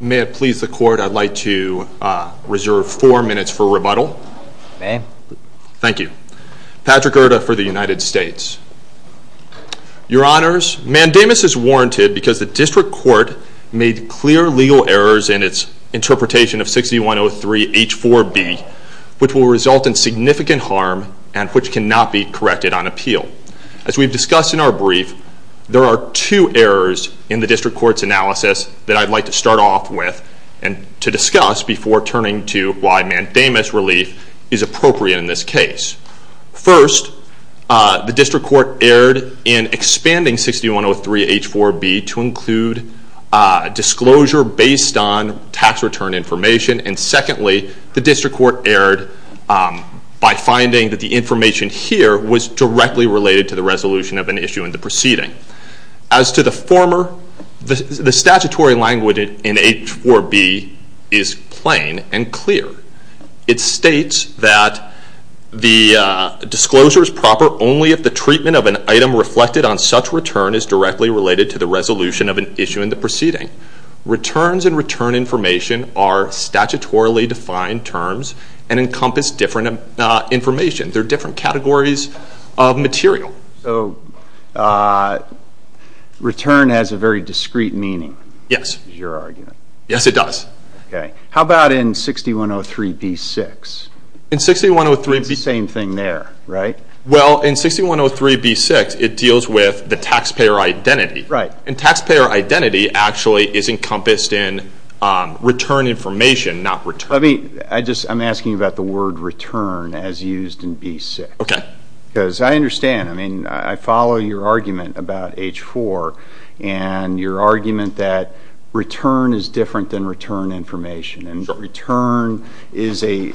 May it please the court, I'd like to reserve four minutes for rebuttal. Ma'am. Thank you. Patrick Erta for the United States. Your Honors, mandamus is warranted because the district court made clear legal errors in its which will result in significant harm and which cannot be corrected on appeal. As we've discussed in our brief, there are two errors in the district court's analysis that I'd like to start off with and to discuss before turning to why mandamus relief is appropriate in this case. First, the district court erred in expanding 6103 H4B to include disclosure based on tax return information. And secondly, the district court erred by finding that the information here was directly related to the resolution of an issue in the proceeding. As to the former, the statutory language in H4B is plain and clear. It states that the disclosure is proper only if the treatment of an item reflected on such return is directly related to the resolution of an issue in the proceeding. Returns and return information are statutorily defined terms and encompass different information. They're different categories of material. So return has a very discrete meaning, is your argument? Yes, it does. How about in 6103 B6? It's the same thing there, right? Well, in 6103 B6, it deals with the taxpayer identity. Right. And taxpayer identity actually is encompassed in return information, not return. I'm asking about the word return as used in B6. Okay. Because I understand. I mean, I follow your argument about H4 and your argument that return is different than return information. Sure. And return is a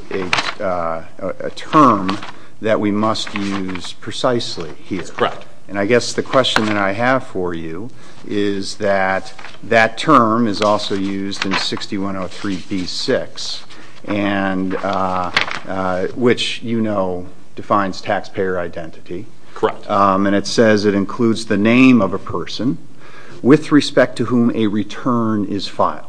term that we must use precisely here. That's correct. And I guess the question that I have for you is that that term is also used in 6103 B6, which you know defines taxpayer identity. Correct. And it says it includes the name of a person with respect to whom a return is filed.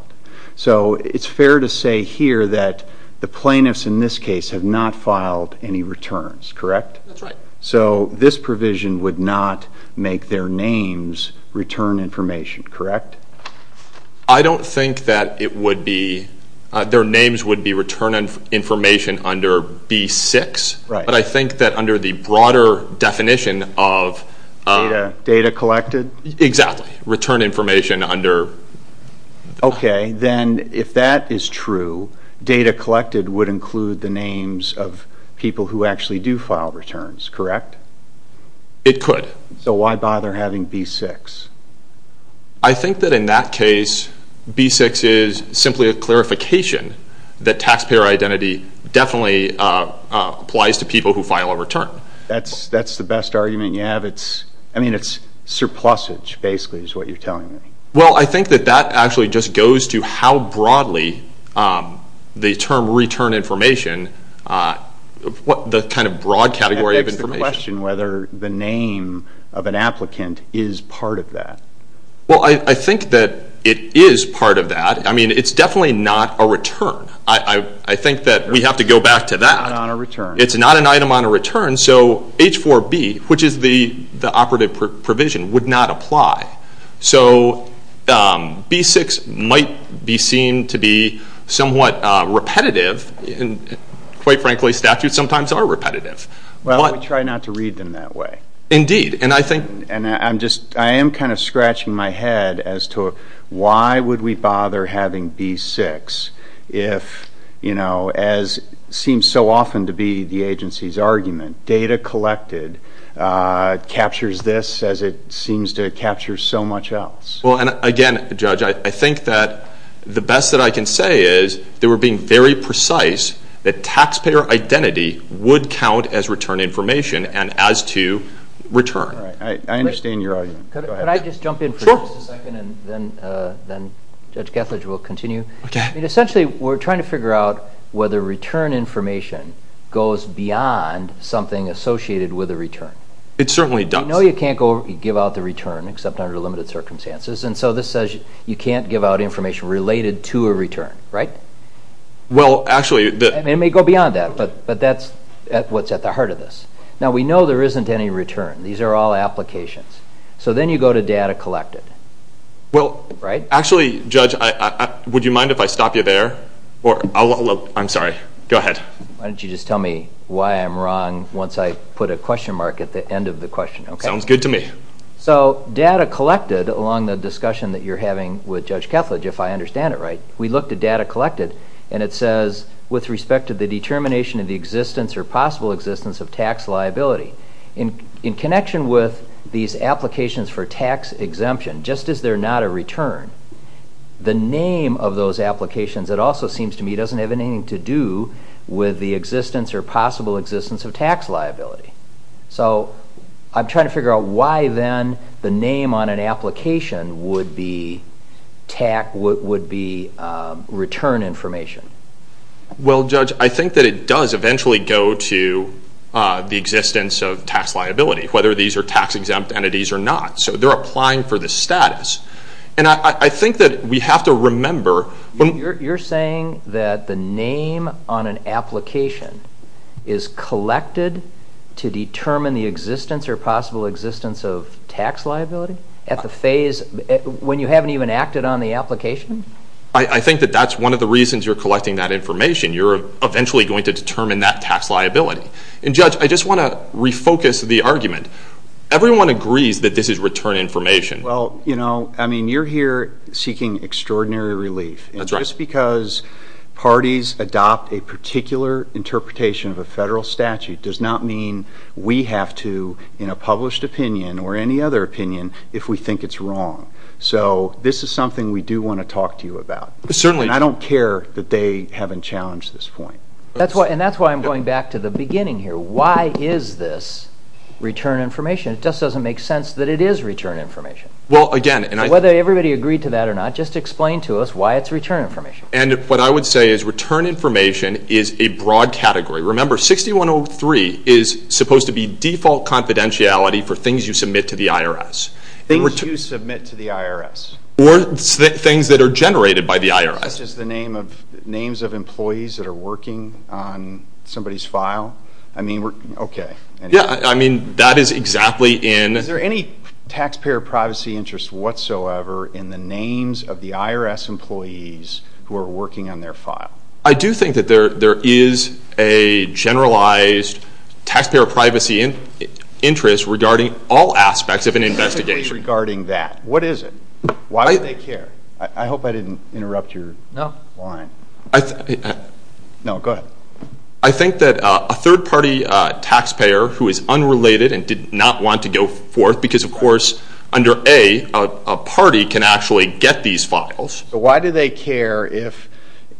So it's fair to say here that the plaintiffs in this case have not filed any returns, correct? That's right. So this provision would not make their names return information, correct? I don't think that it would be. Their names would be return information under B6. Right. But I think that under the broader definition of... Data collected? Exactly. Return information under... It could. So why bother having B6? I think that in that case, B6 is simply a clarification that taxpayer identity definitely applies to people who file a return. That's the best argument you have? I mean, it's surplusage, basically, is what you're telling me. Well, I think that that actually just goes to how broadly the term return information, the kind of broad category of information... That begs the question whether the name of an applicant is part of that. Well, I think that it is part of that. I mean, it's definitely not a return. I think that we have to go back to that. It's not an item on a return. It's not an item on a return, so H4B, which is the operative provision, would not apply. So B6 might be seen to be somewhat repetitive. Quite frankly, statutes sometimes are repetitive. Well, we try not to read them that way. Indeed. And I am kind of scratching my head as to why would we bother having B6 if, as seems so often to be the agency's argument, data collected captures this as it seems to capture so much else? Well, and again, Judge, I think that the best that I can say is that we're being very precise that taxpayer identity would count as return information and as to return. I understand your argument. Could I just jump in for just a second? Sure. And then Judge Kethledge will continue. Okay. I mean, essentially, we're trying to figure out whether return information goes beyond something associated with a return. It certainly does. You know you can't give out the return except under limited circumstances, and so this says you can't give out information related to a return, right? Well, actually, the— I mean, it may go beyond that, but that's what's at the heart of this. Now, we know there isn't any return. These are all applications. So then you go to data collected, right? Actually, Judge, would you mind if I stop you there? I'm sorry. Go ahead. Why don't you just tell me why I'm wrong once I put a question mark at the end of the question? Okay. Sounds good to me. So data collected along the discussion that you're having with Judge Kethledge, if I understand it right, we looked at data collected, and it says with respect to the determination of the existence or possible existence of tax liability. In connection with these applications for tax exemption, just as they're not a return, the name of those applications, it also seems to me, doesn't have anything to do with the existence or possible existence of tax liability. So I'm trying to figure out why then the name on an application would be return information. Well, Judge, I think that it does eventually go to the existence of tax liability, whether these are tax-exempt entities or not. So they're applying for the status. And I think that we have to remember – You're saying that the name on an application is collected to determine the existence or possible existence of tax liability at the phase when you haven't even acted on the application? I think that that's one of the reasons you're collecting that information. You're eventually going to determine that tax liability. And, Judge, I just want to refocus the argument. Everyone agrees that this is return information. Well, you know, I mean, you're here seeking extraordinary relief. That's right. And just because parties adopt a particular interpretation of a federal statute does not mean we have to, in a published opinion or any other opinion, if we think it's wrong. So this is something we do want to talk to you about. Certainly. And I don't care that they haven't challenged this point. And that's why I'm going back to the beginning here. Why is this return information? It just doesn't make sense that it is return information. Well, again – Whether everybody agreed to that or not, just explain to us why it's return information. And what I would say is return information is a broad category. Remember, 6103 is supposed to be default confidentiality for things you submit to the IRS. Things you submit to the IRS. Or things that are generated by the IRS. Such as the names of employees that are working on somebody's file. I mean, okay. Yeah, I mean, that is exactly in – Is there any taxpayer privacy interest whatsoever in the names of the IRS employees who are working on their file? I do think that there is a generalized taxpayer privacy interest regarding all aspects of an investigation. Specifically regarding that. What is it? Why would they care? I hope I didn't interrupt your line. No, go ahead. I think that a third-party taxpayer who is unrelated and did not want to go forth, because, of course, under A, a party can actually get these files. Why do they care if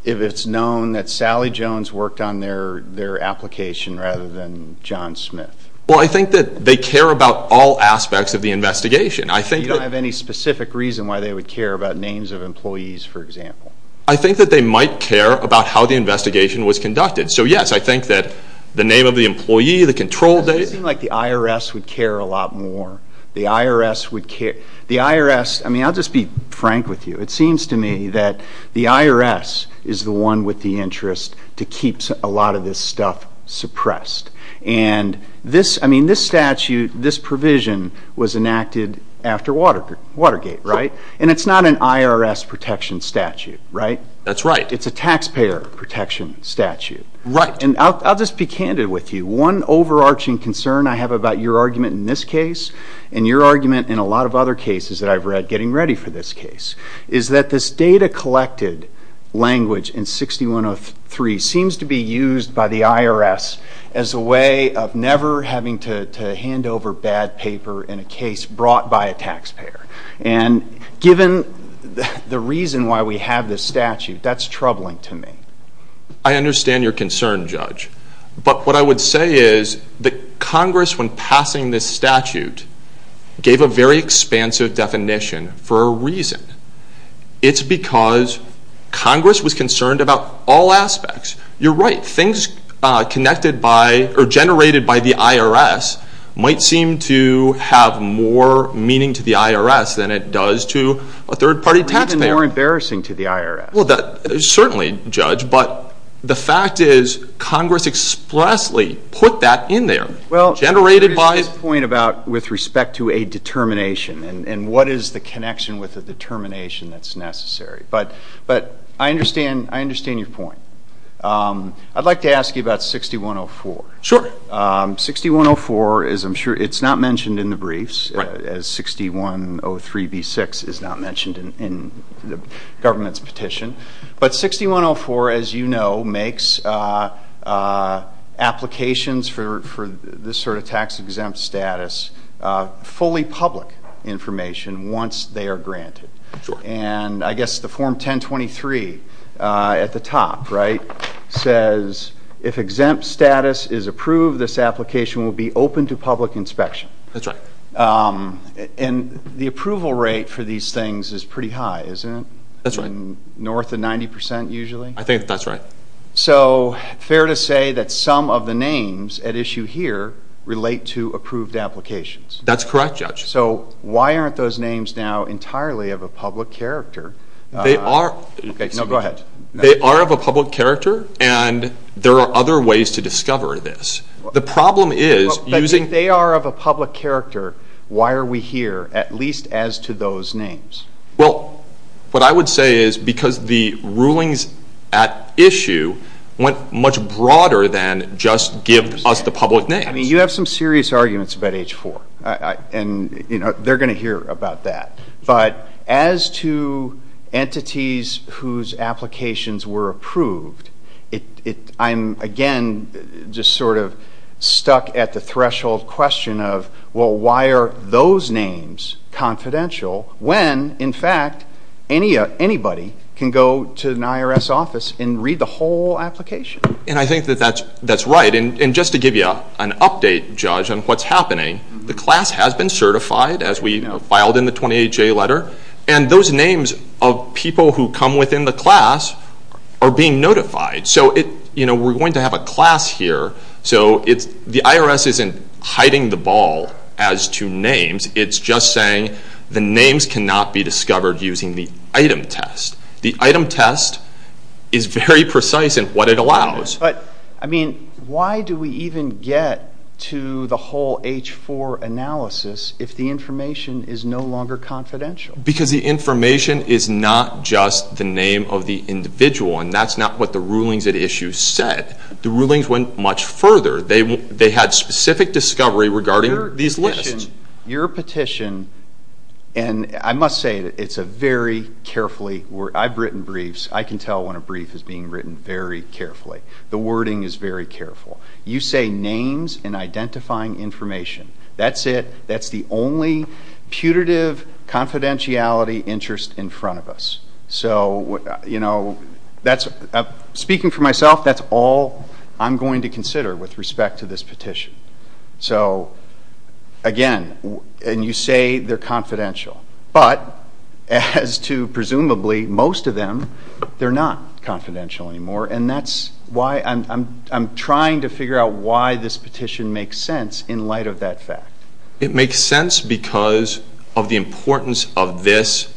it's known that Sally Jones worked on their application rather than John Smith? Well, I think that they care about all aspects of the investigation. I think that – You don't have any specific reason why they would care about names of employees, for example? I think that they might care about how the investigation was conducted. So, yes, I think that the name of the employee, the control date – It seems like the IRS would care a lot more. The IRS would care – The IRS – I mean, I'll just be frank with you. It seems to me that the IRS is the one with the interest to keep a lot of this stuff suppressed. And this statute, this provision, was enacted after Watergate, right? And it's not an IRS protection statute, right? That's right. It's a taxpayer protection statute. Right. And I'll just be candid with you. One overarching concern I have about your argument in this case and your argument in a lot of other cases that I've read getting ready for this case is that this data-collected language in 6103 seems to be used by the IRS as a way of never having to hand over bad paper in a case brought by a taxpayer. And given the reason why we have this statute, that's troubling to me. I understand your concern, Judge. But what I would say is that Congress, when passing this statute, gave a very expansive definition for a reason. It's because Congress was concerned about all aspects. You're right. Things generated by the IRS might seem to have more meaning to the IRS than it does to a third-party taxpayer. Or even more embarrassing to the IRS. Well, certainly, Judge, but the fact is Congress expressly put that in there. Well, there is this point about with respect to a determination and what is the connection with a determination that's necessary. But I understand your point. I'd like to ask you about 6104. Sure. 6104 is, I'm sure, it's not mentioned in the briefs, as 6103b6 is not mentioned in the government's petition. But 6104, as you know, makes applications for this sort of tax-exempt status fully public information once they are granted. Sure. And I guess the Form 1023 at the top, right, says if exempt status is approved, this application will be open to public inspection. That's right. And the approval rate for these things is pretty high, isn't it? That's right. North of 90% usually? I think that's right. So fair to say that some of the names at issue here relate to approved applications. That's correct, Judge. So why aren't those names now entirely of a public character? They are of a public character, and there are other ways to discover this. But if they are of a public character, why are we here, at least as to those names? Well, what I would say is because the rulings at issue went much broader than just give us the public names. You have some serious arguments about H-4, and they're going to hear about that. But as to entities whose applications were approved, I'm, again, just sort of stuck at the threshold question of, well, why are those names confidential when, in fact, anybody can go to an IRS office and read the whole application? And I think that that's right. And just to give you an update, Judge, on what's happening, the class has been certified, as we filed in the 28-J letter, and those names of people who come within the class are being notified. So we're going to have a class here. So the IRS isn't hiding the ball as to names. It's just saying the names cannot be discovered using the item test. The item test is very precise in what it allows. But, I mean, why do we even get to the whole H-4 analysis if the information is no longer confidential? Because the information is not just the name of the individual, and that's not what the rulings at issue said. The rulings went much further. They had specific discovery regarding these lists. Your petition, and I must say that it's a very carefully—I've written briefs. I can tell when a brief is being written very carefully. The wording is very careful. You say names and identifying information. That's it. That's the only putative confidentiality interest in front of us. So, you know, speaking for myself, that's all I'm going to consider with respect to this petition. So, again, and you say they're confidential. But as to presumably most of them, they're not confidential anymore, and that's why I'm trying to figure out why this petition makes sense in light of that fact. It makes sense because of the importance of this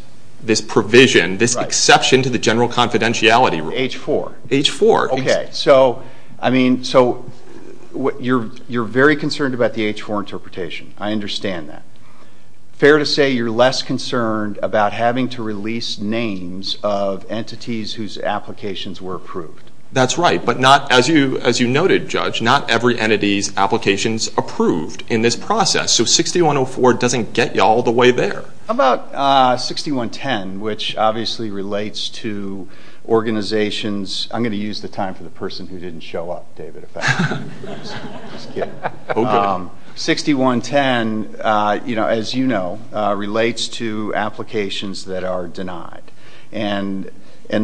provision, this exception to the general confidentiality rule. H-4. H-4. Okay. So, I mean, you're very concerned about the H-4 interpretation. I understand that. Fair to say you're less concerned about having to release names of entities whose applications were approved. That's right. But not, as you noted, Judge, not every entity's applications approved in this process. So 6104 doesn't get you all the way there. How about 6110, which obviously relates to organizations— I'm going to use the time for the person who didn't show up, David, if that helps. I'm just kidding. Okay. 6110, as you know, relates to applications that are denied, and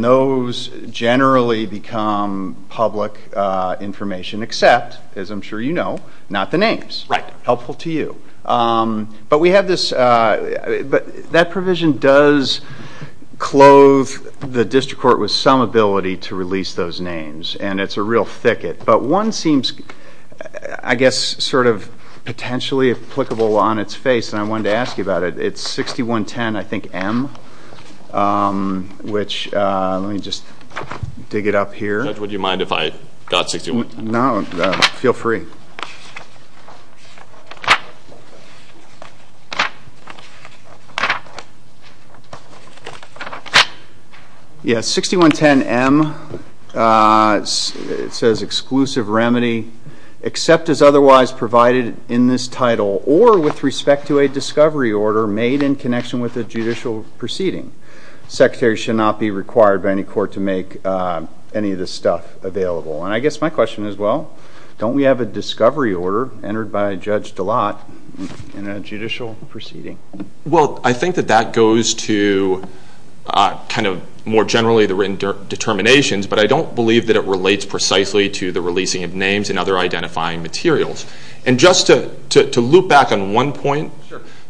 those generally become public information except, as I'm sure you know, not the names. Right. Helpful to you. But that provision does clothe the district court with some ability to release those names, and it's a real thicket. But one seems, I guess, sort of potentially applicable on its face, and I wanted to ask you about it. It's 6110, I think, M, which—let me just dig it up here. Judge, would you mind if I got 6110? No. Feel free. Yes, 6110 M, it says exclusive remedy, except as otherwise provided in this title or with respect to a discovery order made in connection with a judicial proceeding. Secretary should not be required by any court to make any of this stuff available. And I guess my question is, well, don't we have a discovery order entered by Judge DeLotte in a judicial proceeding? Well, I think that that goes to kind of more generally the written determinations, but I don't believe that it relates precisely to the releasing of names and other identifying materials. And just to loop back on one point,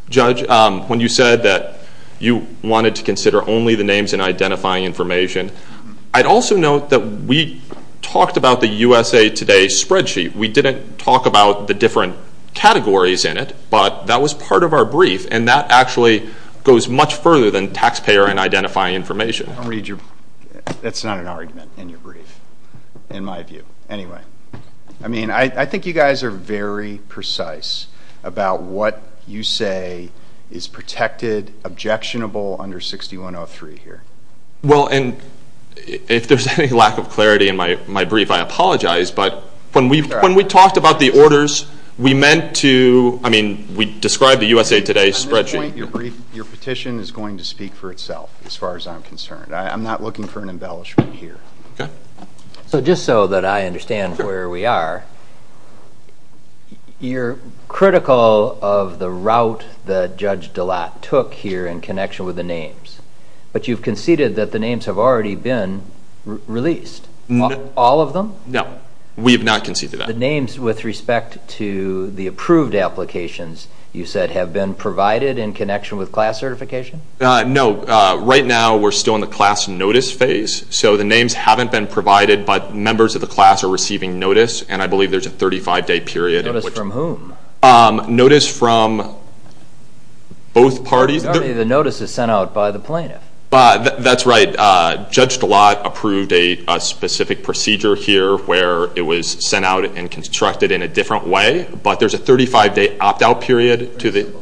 Judge, when you said that you wanted to consider only the names and identifying information, I'd also note that we talked about the USA Today spreadsheet. We didn't talk about the different categories in it, but that was part of our brief, and that actually goes much further than taxpayer and identifying information. I don't read your—that's not an argument in your brief, in my view. Anyway, I mean, I think you guys are very precise about what you say is protected, objectionable under 6103 here. Well, and if there's any lack of clarity in my brief, I apologize, but when we talked about the orders, we meant to—I mean, we described the USA Today spreadsheet. At this point, your petition is going to speak for itself as far as I'm concerned. I'm not looking for an embellishment here. So just so that I understand where we are, you're critical of the route that Judge DeLotte took here in connection with the names, but you've conceded that the names have already been released. All of them? No, we have not conceded that. The names with respect to the approved applications, you said, have been provided in connection with class certification? No. Right now, we're still in the class notice phase, so the names haven't been provided, but members of the class are receiving notice, and I believe there's a 35-day period in which— Notice from whom? Notice from both parties. The notice is sent out by the plaintiff. That's right. Judge DeLotte approved a specific procedure here where it was sent out and constructed in a different way, but there's a 35-day opt-out period to the—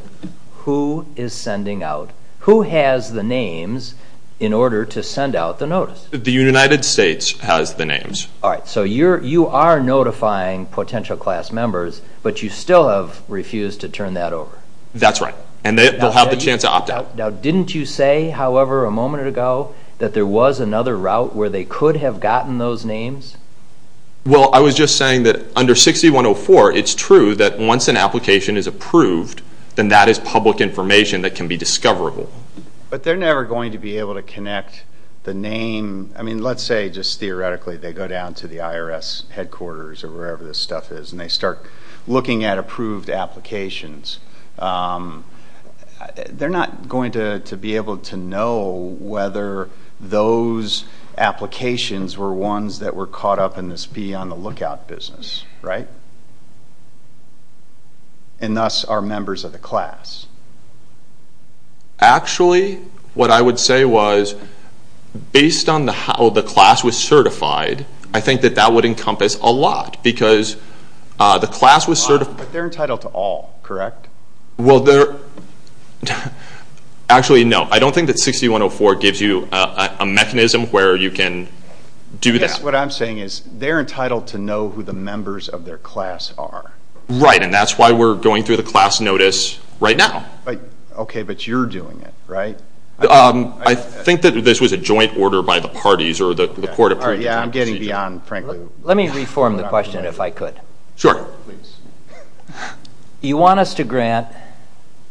Who is sending out? Who has the names in order to send out the notice? The United States has the names. All right. So you are notifying potential class members, but you still have refused to turn that over. That's right. And they'll have the chance to opt out. Now, didn't you say, however, a moment ago, that there was another route where they could have gotten those names? Well, I was just saying that under 6104, it's true that once an application is approved, then that is public information that can be discoverable. But they're never going to be able to connect the name— I mean, let's say just theoretically they go down to the IRS headquarters or wherever this stuff is, and they start looking at approved applications. They're not going to be able to know whether those applications were ones that were caught up in this be-on-the-lookout business, right? And thus are members of the class. Actually, what I would say was, based on how the class was certified, I think that that would encompass a lot because the class was— But they're entitled to all, correct? Well, they're—actually, no. I don't think that 6104 gives you a mechanism where you can do that. What I'm saying is they're entitled to know who the members of their class are. Right, and that's why we're going through the class notice right now. Okay, but you're doing it, right? I think that this was a joint order by the parties or the court of pre-determined procedure. Yeah, I'm getting beyond, frankly— Let me reform the question, if I could. Sure. You want us to grant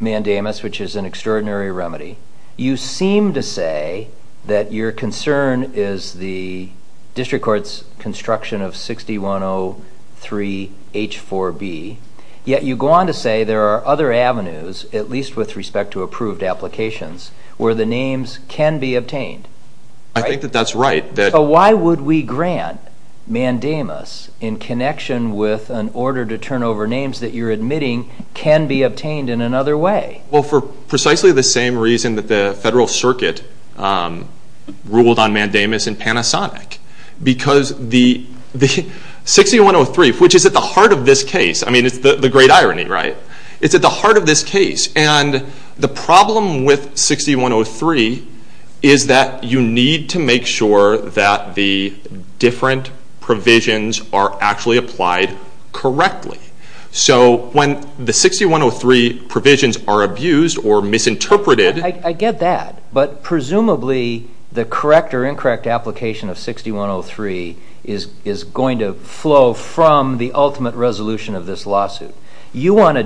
mandamus, which is an extraordinary remedy. You seem to say that your concern is the district court's construction of 6103H4B, yet you go on to say there are other avenues, at least with respect to approved applications, where the names can be obtained. I think that that's right. So why would we grant mandamus in connection with an order to turn over names that you're admitting can be obtained in another way? Well, for precisely the same reason that the federal circuit ruled on mandamus in Panasonic. Because 6103, which is at the heart of this case—I mean, it's the great irony, right? It's at the heart of this case. And the problem with 6103 is that you need to make sure that the different provisions are actually applied correctly. So when the 6103 provisions are abused or misinterpreted— I get that, but presumably the correct or incorrect application of 6103 is going to flow from the ultimate resolution of this lawsuit. You want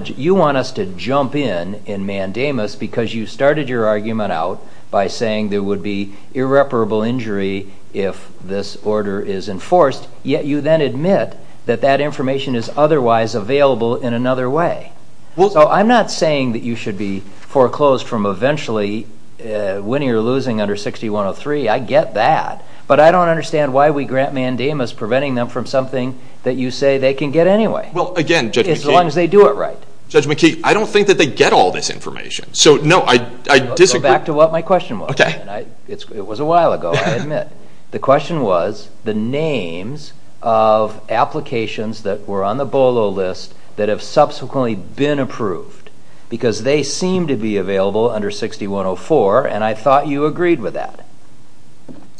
us to jump in in mandamus because you started your argument out by saying there would be irreparable injury if this order is enforced, yet you then admit that that information is otherwise available in another way. So I'm not saying that you should be foreclosed from eventually winning or losing under 6103. I get that, but I don't understand why we grant mandamus preventing them from something that you say they can get anyway. Well, again, Judge McKee— As long as they do it right. Judge McKee, I don't think that they get all this information. So, no, I disagree. Let's go back to what my question was. It was a while ago, I admit. The question was the names of applications that were on the BOLO list that have subsequently been approved because they seem to be available under 6104, and I thought you agreed with that.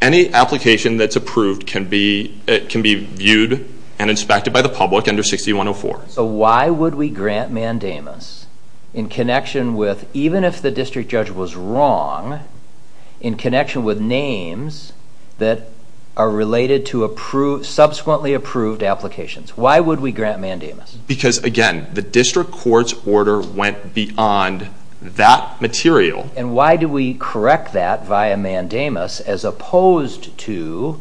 Any application that's approved can be viewed and inspected by the public under 6104. So why would we grant mandamus in connection with, even if the district judge was wrong, in connection with names that are related to subsequently approved applications? Why would we grant mandamus? Because, again, the district court's order went beyond that material. And why do we correct that via mandamus as opposed to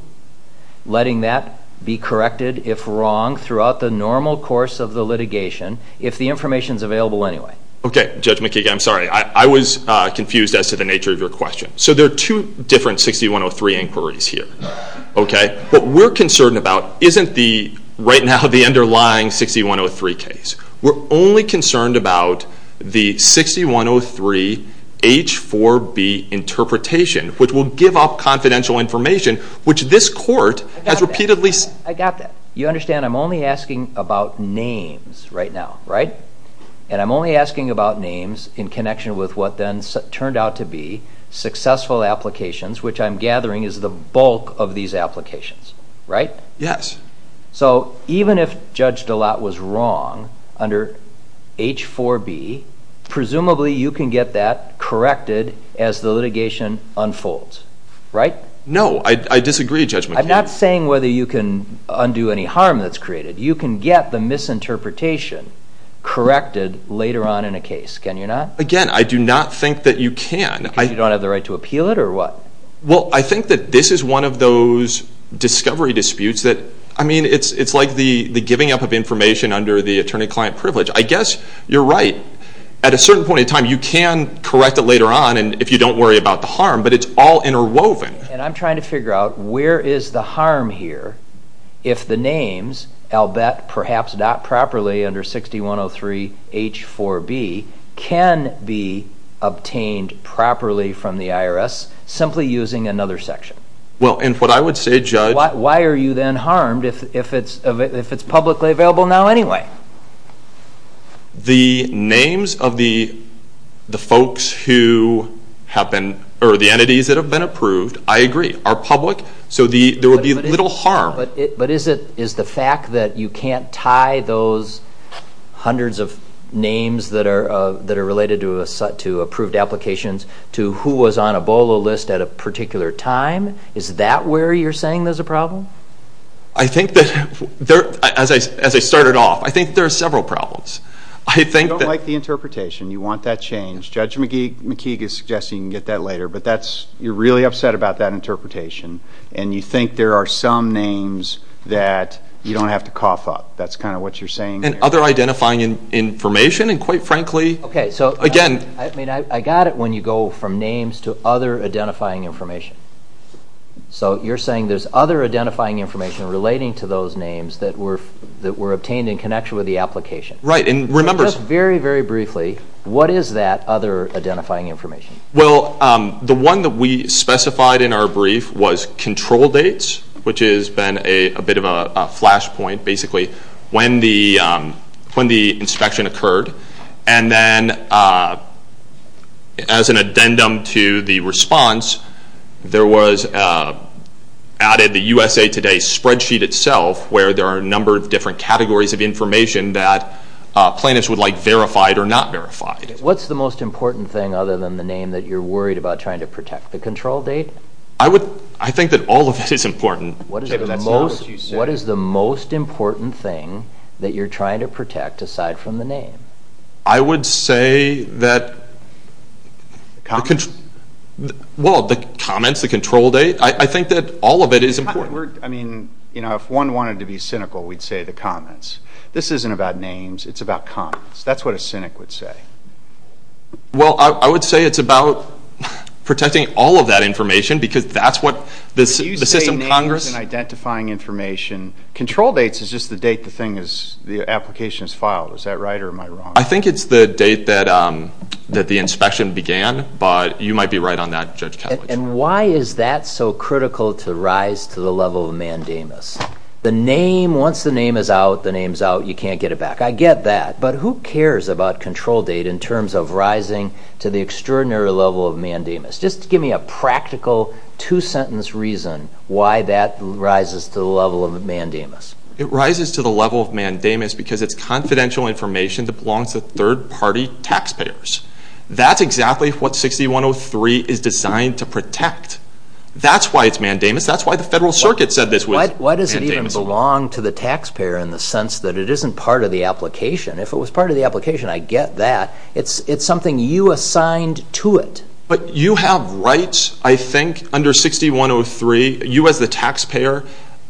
letting that be corrected, if wrong, throughout the normal course of the litigation, if the information's available anyway? Okay, Judge McKee, I'm sorry. I was confused as to the nature of your question. So there are two different 6103 inquiries here. What we're concerned about isn't the, right now, the underlying 6103 case. We're only concerned about the 6103 H4B interpretation, which will give up confidential information, which this court has repeatedly seen. I got that. You understand I'm only asking about names right now, right? And I'm only asking about names in connection with what then turned out to be successful applications, which I'm gathering is the bulk of these applications, right? Yes. So even if Judge DeLatte was wrong under H4B, presumably you can get that corrected as the litigation unfolds, right? No. I disagree, Judge McKee. I'm not saying whether you can undo any harm that's created. You can get the misinterpretation corrected later on in a case, can you not? Again, I do not think that you can. Because you don't have the right to appeal it, or what? Well, I think that this is one of those discovery disputes that, I mean, it's like the giving up of information under the attorney-client privilege. I guess you're right. At a certain point in time you can correct it later on if you don't worry about the harm, but it's all interwoven. And I'm trying to figure out where is the harm here if the names, I'll bet perhaps not properly under 6103 H4B, can be obtained properly from the IRS simply using another section? Well, and what I would say, Judge. Why are you then harmed if it's publicly available now anyway? The names of the folks who have been, or the entities that have been approved, I agree, are public. So there would be little harm. But is the fact that you can't tie those hundreds of names that are related to approved applications to who was on a BOLO list at a particular time, is that where you're saying there's a problem? I think that, as I started off, I think there are several problems. I don't like the interpretation. You want that changed. Judge McKeague is suggesting you can get that later, but you're really upset about that interpretation. And you think there are some names that you don't have to cough up. That's kind of what you're saying there. And other identifying information, and quite frankly, again. I mean, I got it when you go from names to other identifying information. So you're saying there's other identifying information relating to those names that were obtained in connection with the application. Right. And just very, very briefly, what is that other identifying information? Well, the one that we specified in our brief was control dates, which has been a bit of a flashpoint, basically, when the inspection occurred. And then as an addendum to the response, there was added the USA Today spreadsheet itself, where there are a number of different categories of information that plaintiffs would like verified or not verified. What's the most important thing other than the name that you're worried about trying to protect, the control date? I think that all of it is important. What is the most important thing that you're trying to protect aside from the name? I would say that the comments, the control date, I think that all of it is important. I mean, if one wanted to be cynical, we'd say the comments. This isn't about names. It's about comments. That's what a cynic would say. Well, I would say it's about protecting all of that information because that's what the system Congress— Did you say names and identifying information? Control dates is just the date the thing is, the application is filed. Is that right or am I wrong? I think it's the date that the inspection began, but you might be right on that, Judge Kellogg. And why is that so critical to rise to the level of mandamus? The name, once the name is out, the name's out, you can't get it back. I get that, but who cares about control date in terms of rising to the extraordinary level of mandamus? Just give me a practical two-sentence reason why that rises to the level of mandamus. It rises to the level of mandamus because it's confidential information that belongs to third-party taxpayers. That's exactly what 6103 is designed to protect. That's why it's mandamus. That's why the Federal Circuit said this was mandamus. Why does it even belong to the taxpayer in the sense that it isn't part of the application? If it was part of the application, I get that. It's something you assigned to it. But you have rights, I think, under 6103. You as the taxpayer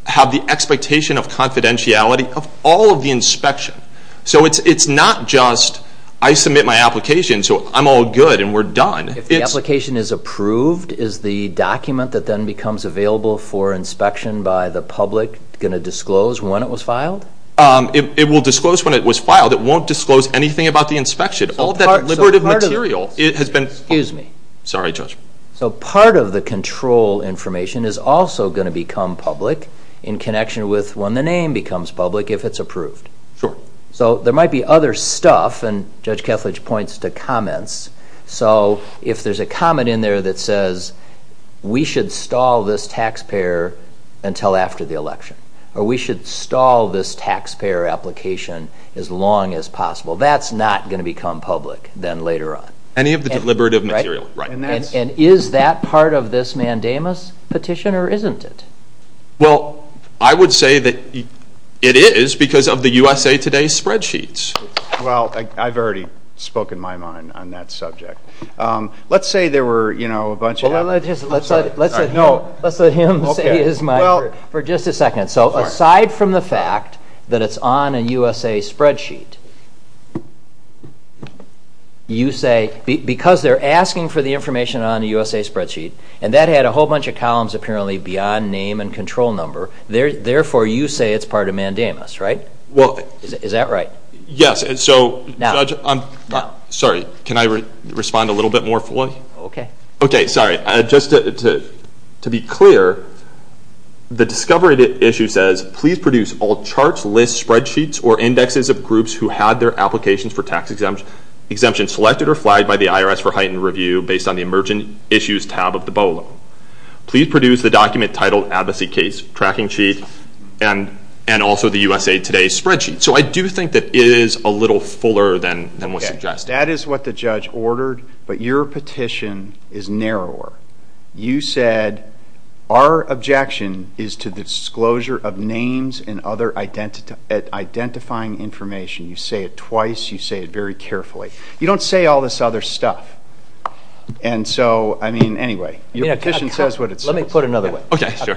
have the expectation of confidentiality of all of the inspection. So it's not just I submit my application so I'm all good and we're done. If the application is approved, is the document that then becomes available for inspection by the public going to disclose when it was filed? It will disclose when it was filed. It won't disclose anything about the inspection. All that deliberative material has been filed. Excuse me. Sorry, Judge. So part of the control information is also going to become public in connection with when the name becomes public if it's approved. Sure. So there might be other stuff, and Judge Kethledge points to comments. So if there's a comment in there that says we should stall this taxpayer until after the election or we should stall this taxpayer application as long as possible, that's not going to become public then later on. Any of the deliberative material, right. And is that part of this mandamus petition or isn't it? Well, I would say that it is because of the USA Today spreadsheets. Well, I've already spoken my mind on that subject. Let's say there were, you know, a bunch of Let's let him say his mind for just a second. So aside from the fact that it's on a USA spreadsheet, you say because they're asking for the information on a USA spreadsheet and that had a whole bunch of columns apparently beyond name and control number, therefore you say it's part of mandamus, right? Is that right? Yes. Sorry. Can I respond a little bit more fully? Okay. Okay. Sorry. Just to be clear, the discovery issue says please produce all charts, lists, spreadsheets, or indexes of groups who had their applications for tax exemption selected or flagged by the IRS for heightened review based on the emergent issues tab of the BOLO. Please produce the document titled Advocacy Case Tracking Sheet and also the USA Today spreadsheet. So I do think that it is a little fuller than what's suggested. Okay. That is what the judge ordered, but your petition is narrower. You said our objection is to the disclosure of names and other identifying information. You say it twice. You say it very carefully. You don't say all this other stuff. And so, I mean, anyway, your petition says what it says. Let me put it another way. Okay. Sure.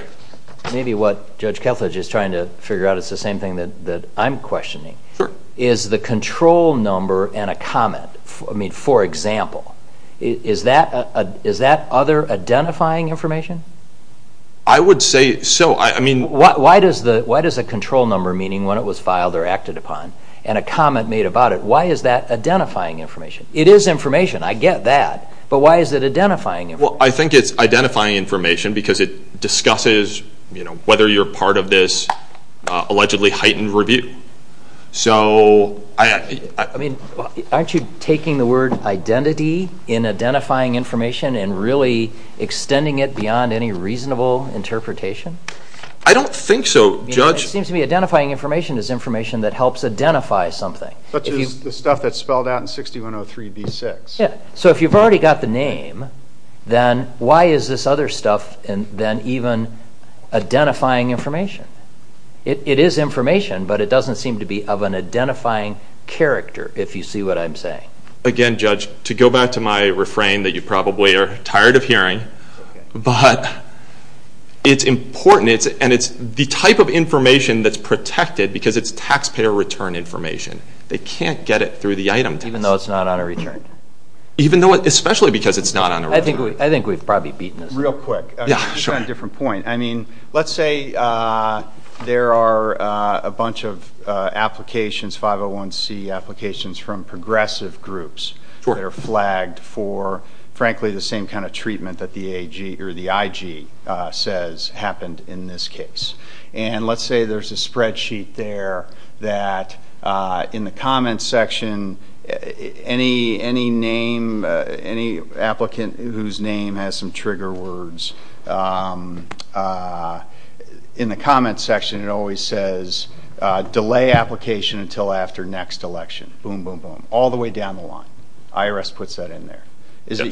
Maybe what Judge Kethledge is trying to figure out is the same thing that I'm questioning. Sure. Is the control number and a comment, I mean, for example, is that other identifying information? I would say so. Why does a control number, meaning when it was filed or acted upon, and a comment made about it, why is that identifying information? It is information. I get that. But why is it identifying information? Well, I think it's identifying information because it discusses, you know, whether you're part of this allegedly heightened review. So I... I mean, aren't you taking the word identity in identifying information and really extending it beyond any reasonable interpretation? I don't think so, Judge. It seems to me identifying information is information that helps identify something. Such as the stuff that's spelled out in 6103B6. Yeah. So if you've already got the name, then why is this other stuff then even identifying information? It is information, but it doesn't seem to be of an identifying character, if you see what I'm saying. Again, Judge, to go back to my refrain that you probably are tired of hearing, but it's important, and it's the type of information that's protected because it's taxpayer return information. They can't get it through the item test. Even though it's not on a return. Even though it's not on a return. Especially because it's not on a return. I think we've probably beaten this. Real quick. Yeah, sure. You've got a different point. I mean, let's say there are a bunch of applications, 501C applications from progressive groups that are flagged for, frankly, the same kind of treatment that the IG says happened in this case. And let's say there's a spreadsheet there that, in the comments section, any name, any applicant whose name has some trigger words, in the comments section, it always says delay application until after next election. Boom, boom, boom. All the way down the line. IRS puts that in there. Is it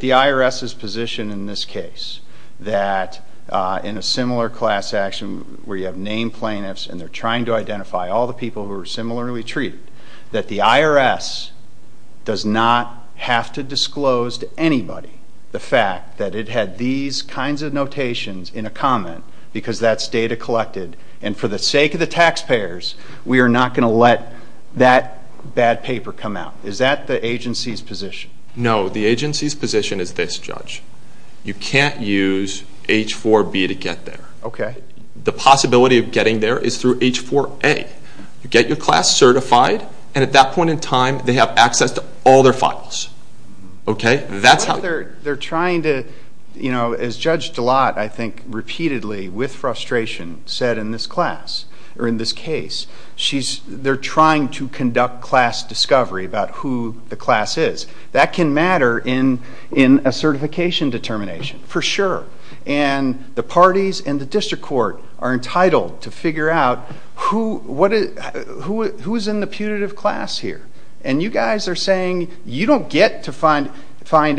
the IRS's position in this case that in a similar class action where you have named plaintiffs and they're trying to identify all the people who are similarly treated, that the IRS does not have to disclose to anybody the fact that it had these kinds of notations in a comment because that's data collected, and for the sake of the taxpayers, we are not going to let that bad paper come out? Is that the agency's position? No, the agency's position is this, Judge. You can't use H-4B to get there. The possibility of getting there is through H-4A. You get your class certified, and at that point in time, they have access to all their files. They're trying to, as Judge DeLotte, I think, repeatedly, with frustration, said in this case, they're trying to conduct class discovery about who the class is. That can matter in a certification determination, for sure, and the parties and the district court are entitled to figure out who is in the putative class here, and you guys are saying you don't get to find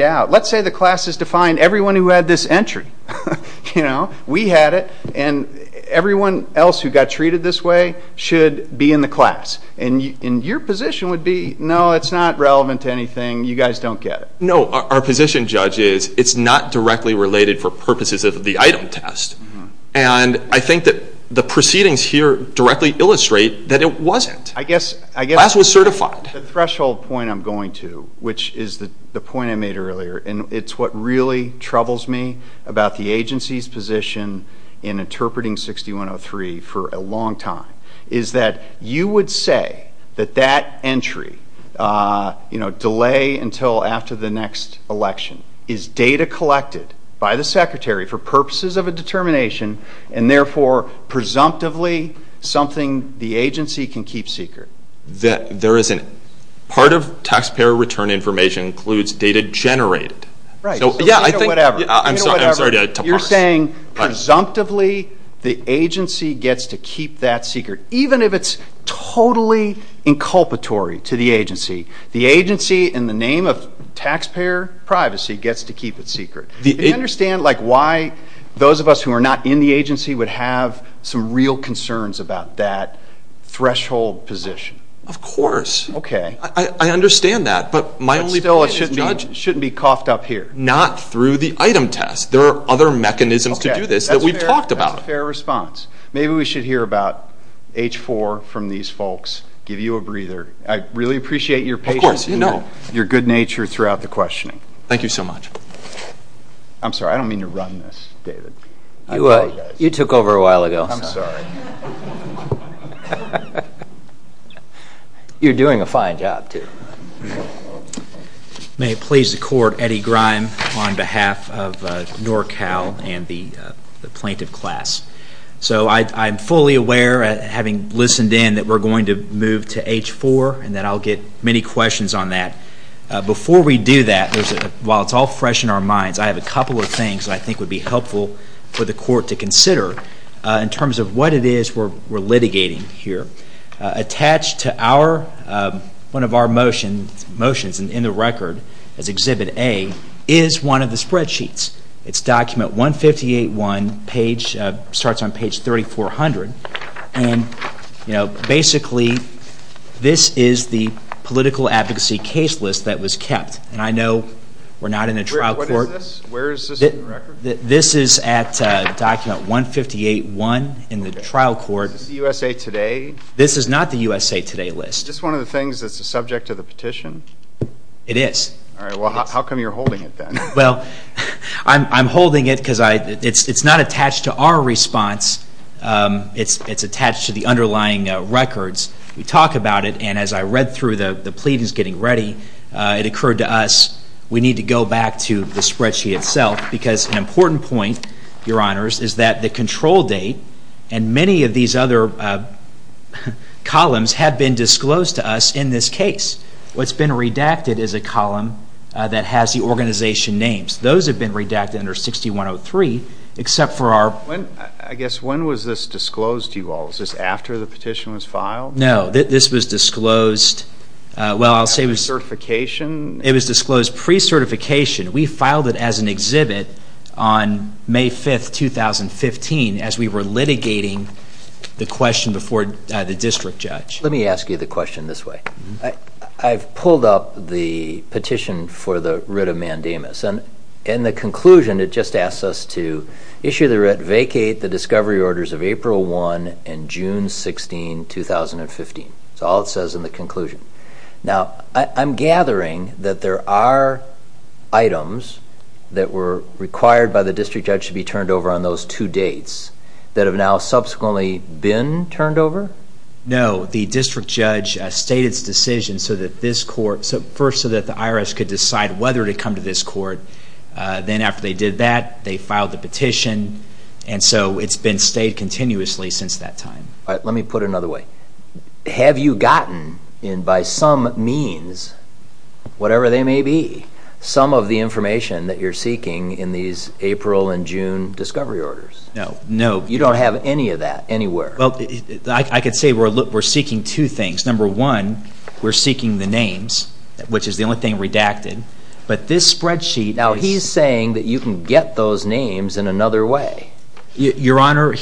out. Let's say the class is to find everyone who had this entry. We had it, and everyone else who got treated this way should be in the class, and your position would be, no, it's not relevant to anything. You guys don't get it. No, our position, Judge, is it's not directly related for purposes of the item test, and I think that the proceedings here directly illustrate that it wasn't. The class was certified. The threshold point I'm going to, which is the point I made earlier, and it's what really troubles me about the agency's position in interpreting 6103 for a long time, is that you would say that that entry, delay until after the next election, is data collected by the Secretary for purposes of a determination and therefore presumptively something the agency can keep secret. Part of taxpayer return information includes data generated. I'm sorry to parse. You're saying presumptively the agency gets to keep that secret, even if it's totally inculpatory to the agency. The agency, in the name of taxpayer privacy, gets to keep it secret. Do you understand why those of us who are not in the agency would have some real concerns about that threshold position? Of course. Okay. I understand that, but my only point is, Judge— Still, it shouldn't be coughed up here. Not through the item test. There are other mechanisms to do this that we've talked about. That's a fair response. Maybe we should hear about H-4 from these folks, give you a breather. I really appreciate your patience and your good nature throughout the questioning. Thank you so much. I'm sorry, I don't mean to run this, David. You took over a while ago. I'm sorry. You're doing a fine job, too. May it please the Court, Eddie Grime on behalf of NORCAL and the plaintiff class. I'm fully aware, having listened in, that we're going to move to H-4 and that I'll get many questions on that. I have a couple of things I think would be helpful for the Court to consider in terms of what it is we're litigating here. Attached to one of our motions, and in the record as Exhibit A, is one of the spreadsheets. It's document 158-1, starts on page 3400, and basically this is the political advocacy case list that was kept. And I know we're not in a trial court. What is this? Where is this in the record? This is at document 158-1 in the trial court. Is this the USA Today? This is not the USA Today list. Is this one of the things that's subject to the petition? It is. All right. Well, how come you're holding it then? Well, I'm holding it because it's not attached to our response. It's attached to the underlying records. We talk about it, and as I read through the pleadings getting ready, it occurred to us we need to go back to the spreadsheet itself because an important point, Your Honors, is that the control date and many of these other columns have been disclosed to us in this case. What's been redacted is a column that has the organization names. Those have been redacted under 6103, except for our ---- I guess when was this disclosed to you all? Was this after the petition was filed? No, this was disclosed ---- Pre-certification? It was disclosed pre-certification. We filed it as an exhibit on May 5, 2015, as we were litigating the question before the district judge. Let me ask you the question this way. I've pulled up the petition for the writ of mandamus, and in the conclusion it just asks us to issue the writ, vacate the discovery orders of April 1 and June 16, 2015. That's all it says in the conclusion. Now, I'm gathering that there are items that were required by the district judge to be turned over on those two dates that have now subsequently been turned over? No, the district judge stated its decision so that this court ---- first so that the IRS could decide whether to come to this court. Then after they did that, they filed the petition, and so it's been stayed continuously since that time. All right, let me put it another way. Have you gotten, by some means, whatever they may be, some of the information that you're seeking in these April and June discovery orders? No. You don't have any of that anywhere? I could say we're seeking two things. Number one, we're seeking the names, which is the only thing redacted, but this spreadsheet ---- Now he's saying that you can get those names in another way. Your Honor,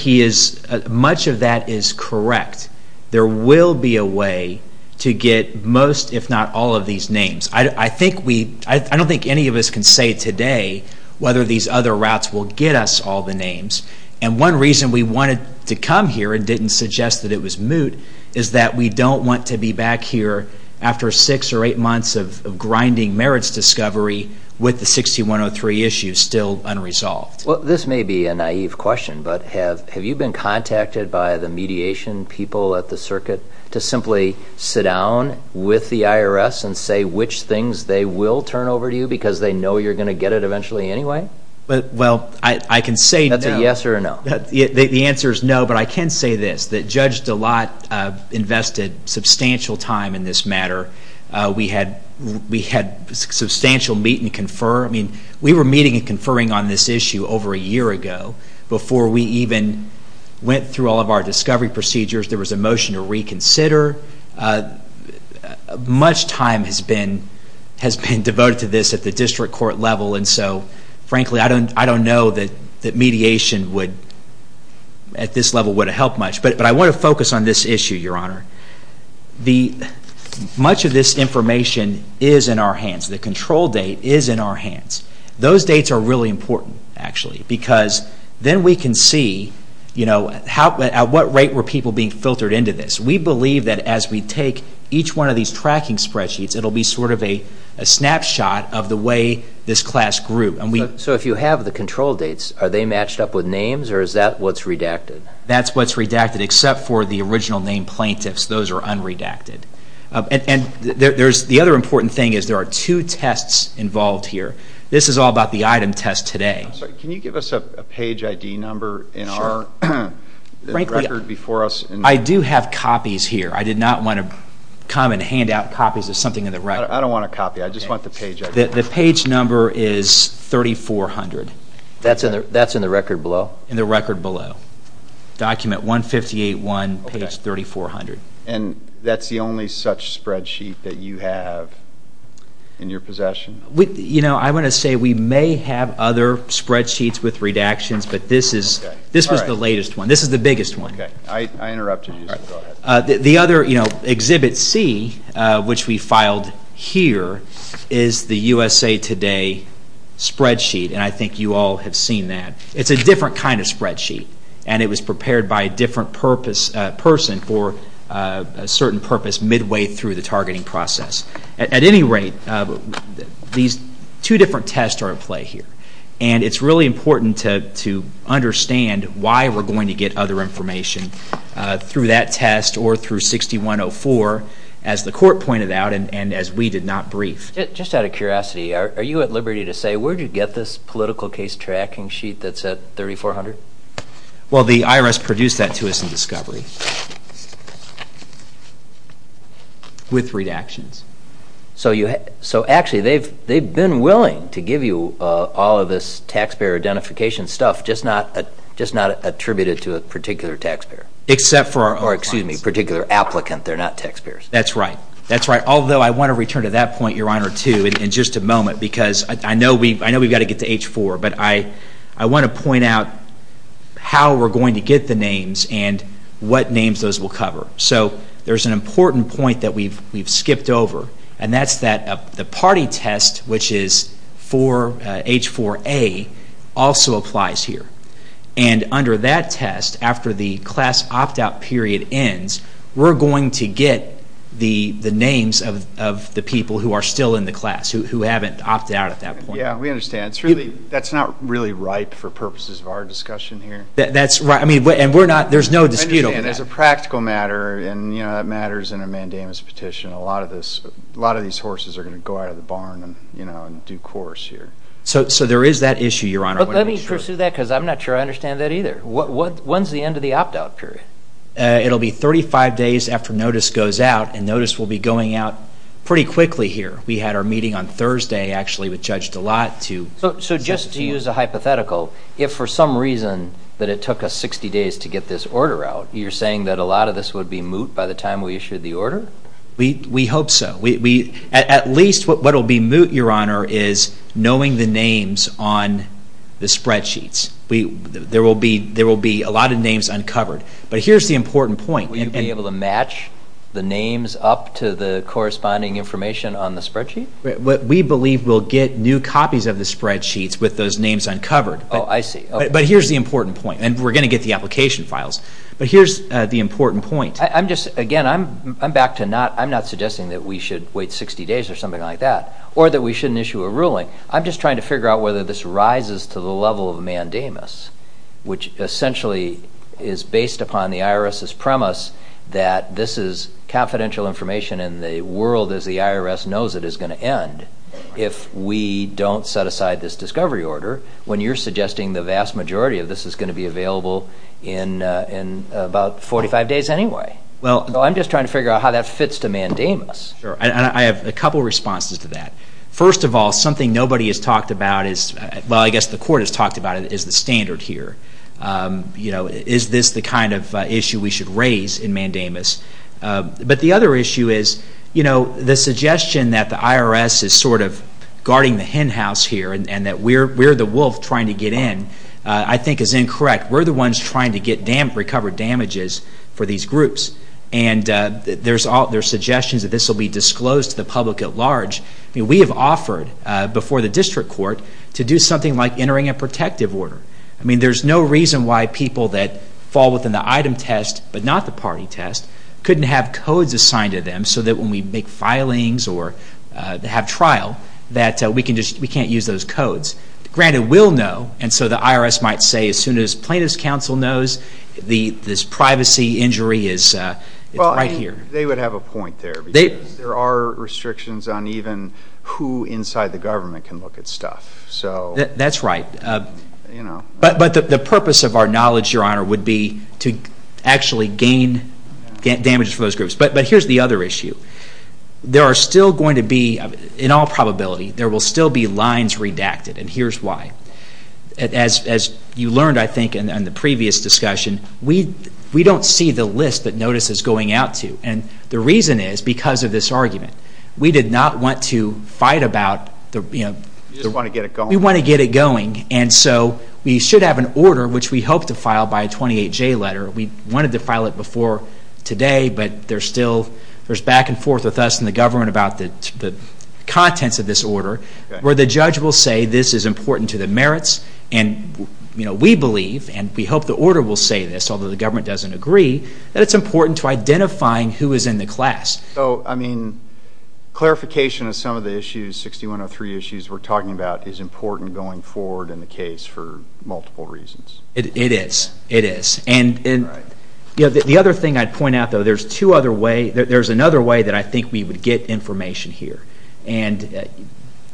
much of that is correct. There will be a way to get most, if not all, of these names. I don't think any of us can say today whether these other routes will get us all the names, and one reason we wanted to come here and didn't suggest that it was moot is that we don't want to be back here after six or eight months of grinding merits discovery with the 6103 issue still unresolved. Well, this may be a naive question, but have you been contacted by the mediation people at the circuit to simply sit down with the IRS and say which things they will turn over to you because they know you're going to get it eventually anyway? Well, I can say no. That's a yes or a no? The answer is no, but I can say this, that Judge DeLotte invested substantial time in this matter. We had substantial meet and confer. We were meeting and conferring on this issue over a year ago before we even went through all of our discovery procedures. There was a motion to reconsider. Much time has been devoted to this at the district court level, and so, frankly, I don't know that mediation at this level would have helped much. But I want to focus on this issue, Your Honor. Much of this information is in our hands. The control date is in our hands. Those dates are really important, actually, because then we can see at what rate were people being filtered into this. We believe that as we take each one of these tracking spreadsheets, it will be sort of a snapshot of the way this class grew. So if you have the control dates, are they matched up with names, or is that what's redacted? That's what's redacted except for the original name plaintiffs. Those are unredacted. The other important thing is there are two tests involved here. This is all about the item test today. Can you give us a page ID number in our record before us? I do have copies here. I did not want to come and hand out copies of something in the record. I don't want a copy. I just want the page ID number. The page number is 3400. That's in the record below? In the record below. Document 158-1, page 3400. And that's the only such spreadsheet that you have in your possession? I want to say we may have other spreadsheets with redactions, but this was the latest one. This is the biggest one. I interrupted you, so go ahead. The other, Exhibit C, which we filed here, is the USA Today spreadsheet, and I think you all have seen that. It's a different kind of spreadsheet, and it was prepared by a different person for a certain purpose midway through the targeting process. At any rate, these two different tests are at play here, and it's really important to understand why we're going to get other information through that test or through 6104, as the court pointed out and as we did not brief. Just out of curiosity, are you at liberty to say, where did you get this political case tracking sheet that said 3400? Well, the IRS produced that to us in discovery with redactions. So actually they've been willing to give you all of this taxpayer identification stuff just not attributed to a particular taxpayer. Except for our own clients. Or, excuse me, particular applicant. They're not taxpayers. That's right. Although I want to return to that point, Your Honor, too, in just a moment, because I know we've got to get to H-4, but I want to point out how we're going to get the names and what names those will cover. So there's an important point that we've skipped over, and that's that the party test, which is H-4A, also applies here. And under that test, after the class opt-out period ends, we're going to get the names of the people who are still in the class, who haven't opted out at that point. Yeah, we understand. That's not really ripe for purposes of our discussion here. That's right. And there's no dispute over that. There's a practical matter, and that matters in a mandamus petition. A lot of these horses are going to go out of the barn and do course here. So there is that issue, Your Honor. But let me pursue that because I'm not sure I understand that either. When's the end of the opt-out period? It'll be 35 days after notice goes out, and notice will be going out pretty quickly here. We had our meeting on Thursday, actually, which judged a lot. So just to use a hypothetical, if for some reason that it took us 60 days to get this order out, you're saying that a lot of this would be moot by the time we issued the order? We hope so. At least what will be moot, Your Honor, is knowing the names on the spreadsheets. There will be a lot of names uncovered. But here's the important point. Will you be able to match the names up to the corresponding information on the spreadsheet? We believe we'll get new copies of the spreadsheets with those names uncovered. Oh, I see. But here's the important point, and we're going to get the application files. But here's the important point. Again, I'm back to not suggesting that we should wait 60 days or something like that or that we shouldn't issue a ruling. I'm just trying to figure out whether this rises to the level of mandamus, which essentially is based upon the IRS's premise that this is confidential information and the world as the IRS knows it is going to end if we don't set aside this discovery order when you're suggesting the vast majority of this is going to be available in about 45 days anyway. So I'm just trying to figure out how that fits to mandamus. Sure, and I have a couple of responses to that. First of all, something nobody has talked about is, well, I guess the court has talked about it, is the standard here. Is this the kind of issue we should raise in mandamus? But the other issue is the suggestion that the IRS is sort of guarding the hen house here and that we're the wolf trying to get in I think is incorrect. We're the ones trying to recover damages for these groups, and there are suggestions that this will be disclosed to the public at large. I mean, we have offered before the district court to do something like entering a protective order. I mean, there's no reason why people that fall within the item test but not the party test couldn't have codes assigned to them so that when we make filings or have trial that we can't use those codes. Granted, we'll know, and so the IRS might say, as soon as plaintiff's counsel knows this privacy injury is right here. They would have a point there because there are restrictions on even who inside the government can look at stuff. That's right. But the purpose of our knowledge, Your Honor, would be to actually gain damages for those groups. But here's the other issue. There are still going to be, in all probability, there will still be lines redacted, and here's why. As you learned, I think, in the previous discussion, we don't see the list that notice is going out to. And the reason is because of this argument. We did not want to fight about the, you know. You just want to get it going. We want to get it going. And so we should have an order, which we hope to file by a 28-J letter. We wanted to file it before today, but there's back and forth with us and the government about the contents of this order, where the judge will say this is important to the merits, and, you know, we believe, and we hope the order will say this, although the government doesn't agree, that it's important to identifying who is in the class. So, I mean, clarification of some of the issues, 6103 issues we're talking about, is important going forward in the case for multiple reasons. It is. It is. And the other thing I'd point out, though, there's another way that I think we would get information here. And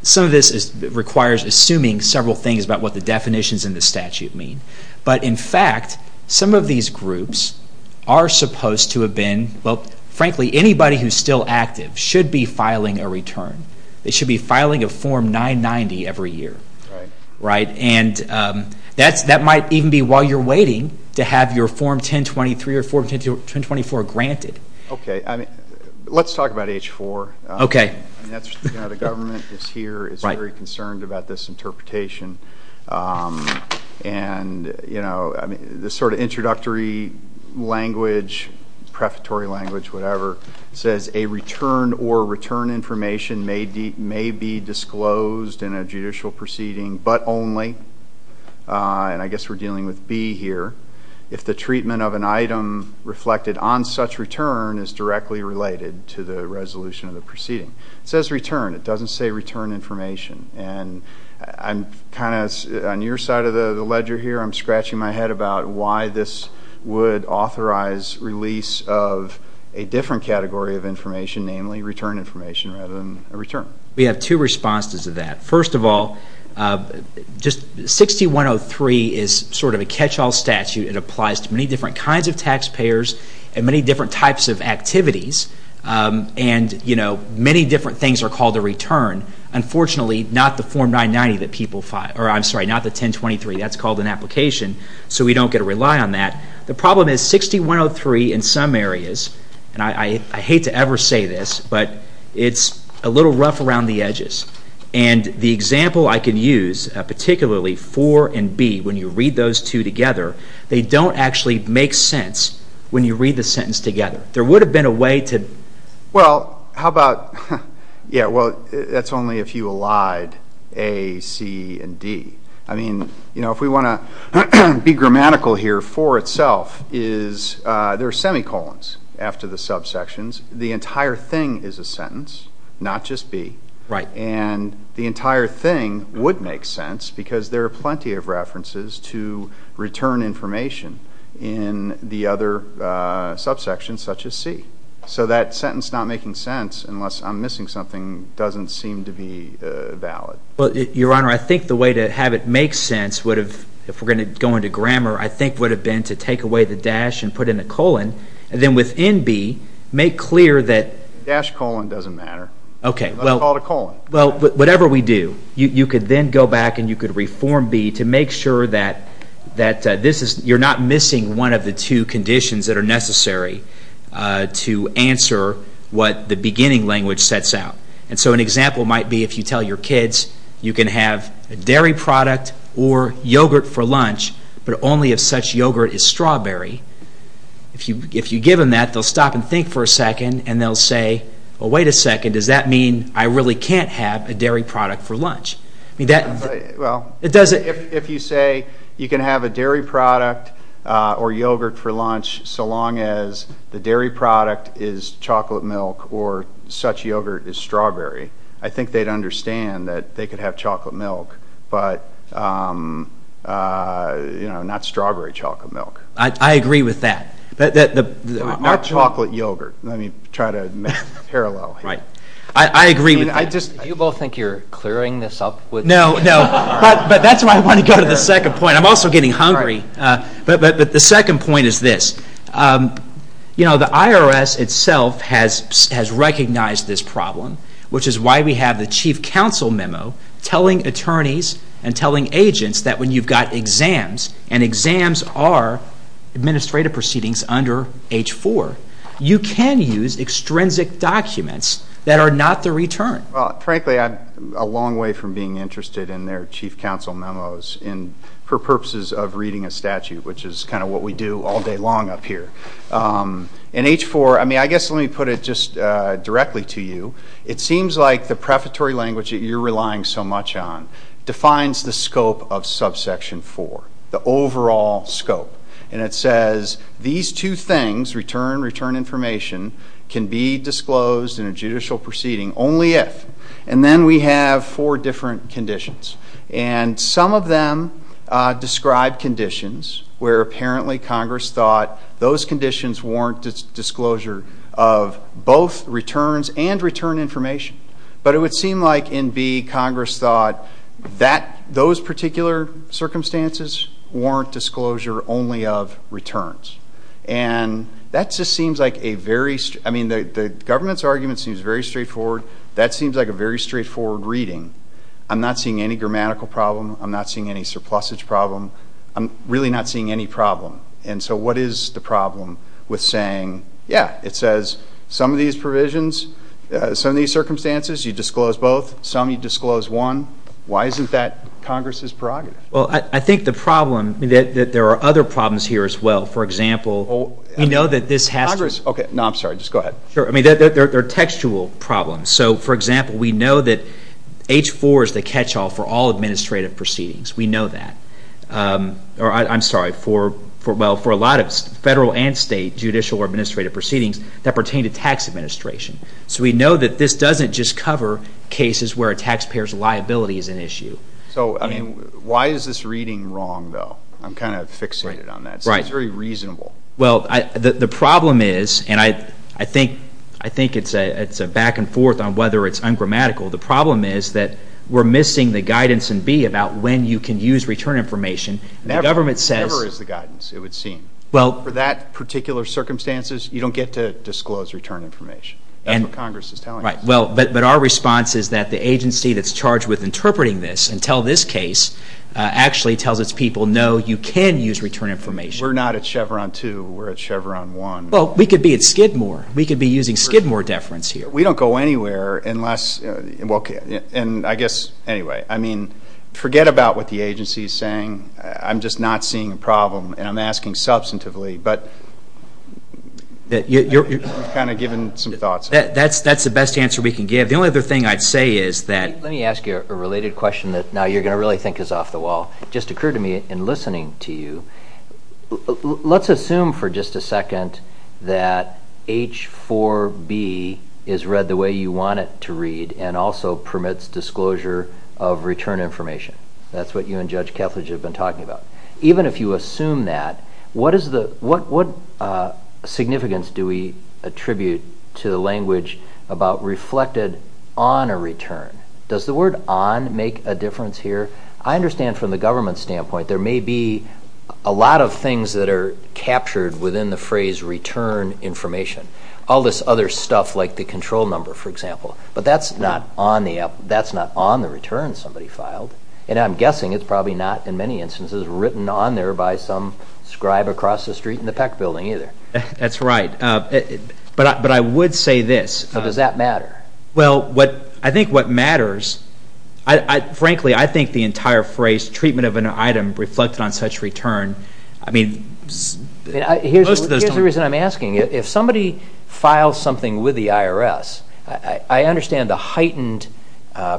some of this requires assuming several things about what the definitions in the statute mean. But, in fact, some of these groups are supposed to have been, well, frankly, anybody who's still active should be filing a return. They should be filing a Form 990 every year. Right. Right. And that might even be while you're waiting to have your Form 1023 or Form 1024 granted. Okay. Let's talk about H-4. Okay. You know, the government is here, is very concerned about this interpretation. And, you know, the sort of introductory language, prefatory language, whatever, says a return or return information may be disclosed in a judicial proceeding, but only, and I guess we're dealing with B here, if the treatment of an item reflected on such return is directly related to the resolution of the proceeding. It says return. It doesn't say return information. And I'm kind of, on your side of the ledger here, I'm scratching my head about why this would authorize release of a different category of information, namely return information rather than a return. We have two responses to that. First of all, 6103 is sort of a catch-all statute. It applies to many different kinds of taxpayers and many different types of activities. And, you know, many different things are called a return. Unfortunately, not the Form 990 that people file, or I'm sorry, not the 1023. That's called an application, so we don't get to rely on that. The problem is 6103 in some areas, and I hate to ever say this, but it's a little rough around the edges. And the example I can use, particularly 4 and B, when you read those two together, they don't actually make sense when you read the sentence together. There would have been a way to... Well, how about, yeah, well, that's only if you allied A, C, and D. I mean, you know, if we want to be grammatical here, 4 itself is, there are semicolons after the subsections. The entire thing is a sentence, not just B. Right. And the entire thing would make sense because there are plenty of references to return information in the other subsections, such as C. So that sentence not making sense, unless I'm missing something, doesn't seem to be valid. Well, Your Honor, I think the way to have it make sense would have, if we're going to go into grammar, I think would have been to take away the dash and put in a colon, and then within B, make clear that... The dash colon doesn't matter. Okay. It's not called a colon. Well, whatever we do, you could then go back and you could reform B to make sure that this is, you're not missing one of the two conditions that are necessary to answer what the beginning language sets out. And so an example might be if you tell your kids you can have a dairy product or yogurt for lunch, but only if such yogurt is strawberry. If you give them that, they'll stop and think for a second, and they'll say, well, wait a second, does that mean I really can't have a dairy product for lunch? Well, if you say you can have a dairy product or yogurt for lunch so long as the dairy product is chocolate milk or such yogurt is strawberry, I think they'd understand that they could have chocolate milk, but not strawberry chocolate milk. I agree with that. Not chocolate yogurt. Let me try to make a parallel here. Right. I agree with that. Do you both think you're clearing this up? No, no. But that's why I want to go to the second point. I'm also getting hungry. But the second point is this. You know, the IRS itself has recognized this problem, which is why we have the chief counsel memo telling attorneys and telling agents that when you've got exams, and exams are administrative proceedings under H-4, you can use extrinsic documents that are not the return. Well, frankly, I'm a long way from being interested in their chief counsel memos for purposes of reading a statute, which is kind of what we do all day long up here. In H-4, I mean, I guess let me put it just directly to you. It seems like the prefatory language that you're relying so much on defines the scope of Subsection 4, the overall scope, and it says these two things, return and return information, can be disclosed in a judicial proceeding only if, and then we have four different conditions, and some of them describe conditions where apparently Congress thought those conditions warrant disclosure of both returns and return information. But it would seem like in B, Congress thought those particular circumstances warrant disclosure only of returns. And that just seems like a very, I mean, the government's argument seems very straightforward. That seems like a very straightforward reading. I'm not seeing any grammatical problem. I'm not seeing any surplusage problem. I'm really not seeing any problem. And so what is the problem with saying, yeah, it says some of these provisions, some of these circumstances you disclose both, some you disclose one. Why isn't that Congress's prerogative? Well, I think the problem, I mean, there are other problems here as well. For example, we know that this has to be. Congress, okay. No, I'm sorry. Just go ahead. Sure. I mean, there are textual problems. So, for example, we know that H-4 is the catch-all for all administrative proceedings. We know that. I'm sorry, for, well, for a lot of federal and state judicial or administrative proceedings that pertain to tax administration. So we know that this doesn't just cover cases where a taxpayer's liability is an issue. So, I mean, why is this reading wrong, though? I'm kind of fixated on that. Right. It seems very reasonable. Well, the problem is, and I think it's a back and forth on whether it's ungrammatical. The problem is that we're missing the guidance in B about when you can use return information. Never is the guidance, it would seem. Well. For that particular circumstances, you don't get to disclose return information. That's what Congress is telling us. Right. Well, but our response is that the agency that's charged with interpreting this and tell this case actually tells its people, no, you can use return information. We're not at Chevron 2. We're at Chevron 1. Well, we could be at Skidmore. We could be using Skidmore deference here. We don't go anywhere unless, and I guess, anyway, I mean, forget about what the agency is saying. I'm just not seeing a problem, and I'm asking substantively. But you've kind of given some thoughts. That's the best answer we can give. The only other thing I'd say is that. Let me ask you a related question that now you're going to really think is off the wall. It just occurred to me in listening to you. Let's assume for just a second that H4B is read the way you want it to read and also permits disclosure of return information. That's what you and Judge Kethledge have been talking about. Even if you assume that, what significance do we attribute to the language about reflected on a return? Does the word on make a difference here? I understand from the government standpoint there may be a lot of things that are captured within the phrase return information, all this other stuff like the control number, for example. But that's not on the return somebody filed, and I'm guessing it's probably not in many instances written on there by some scribe across the street in the Peck Building either. That's right. But I would say this. Does that matter? Well, I think what matters, frankly, I think the entire phrase treatment of an item reflected on such return, I mean, most of those don't. Here's the reason I'm asking. If somebody files something with the IRS, I understand the heightened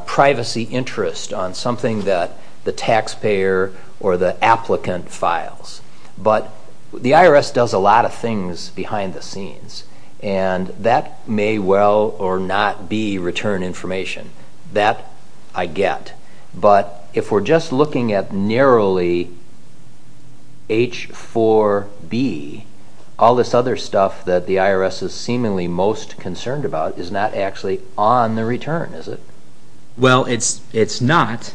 privacy interest on something that the taxpayer or the applicant files. But the IRS does a lot of things behind the scenes, and that may well or not be return information. That I get. But if we're just looking at narrowly H4B, all this other stuff that the IRS is seemingly most concerned about is not actually on the return, is it? Well, it's not.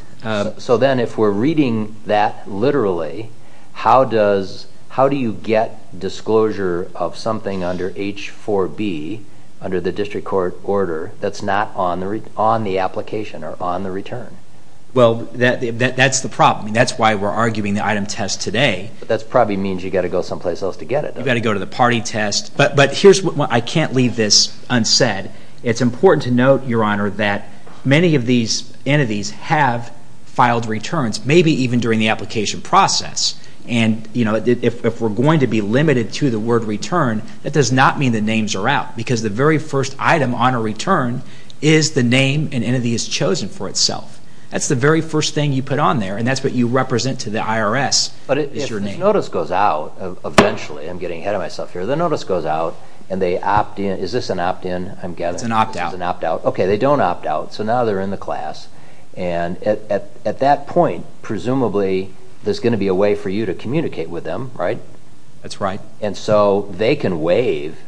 So then if we're reading that literally, how do you get disclosure of something under H4B, under the district court order, that's not on the application or on the return? Well, that's the problem. That's why we're arguing the item test today. But that probably means you've got to go someplace else to get it, doesn't it? You've got to go to the party test. But I can't leave this unsaid. It's important to note, Your Honor, that many of these entities have filed returns, maybe even during the application process. And if we're going to be limited to the word return, that does not mean the names are out, because the very first item on a return is the name an entity has chosen for itself. That's the very first thing you put on there, and that's what you represent to the IRS is your name. But if this notice goes out, eventually, I'm getting ahead of myself here. The notice goes out, and they opt in. Is this an opt in, I'm guessing? It's an opt out. It's an opt out. Okay, they don't opt out. So now they're in the class. And at that point, presumably, there's going to be a way for you to communicate with them, right? That's right. And so they can waive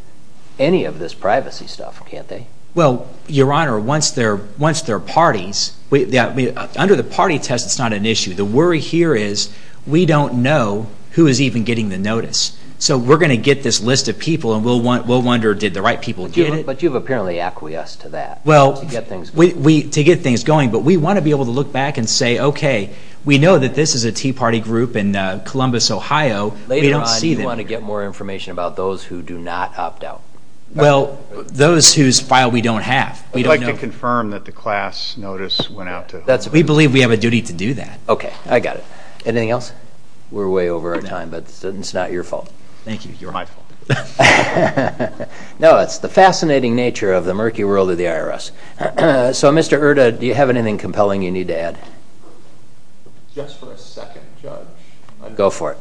any of this privacy stuff, can't they? Well, Your Honor, once they're parties, under the party test, it's not an issue. The worry here is we don't know who is even getting the notice. So we're going to get this list of people, and we'll wonder, did the right people get it? But you've apparently acquiesced to that to get things going. But we want to be able to look back and say, okay, we know that this is a tea party group in Columbus, Ohio. Later on, you want to get more information about those who do not opt out. Well, those whose file we don't have. I'd like to confirm that the class notice went out to whom? We believe we have a duty to do that. Okay, I got it. Anything else? We're way over our time, but it's not your fault. Thank you. You're my fault. No, it's the fascinating nature of the murky world of the IRS. So, Mr. Erta, do you have anything compelling you need to add? Just for a second, Judge. Go for it.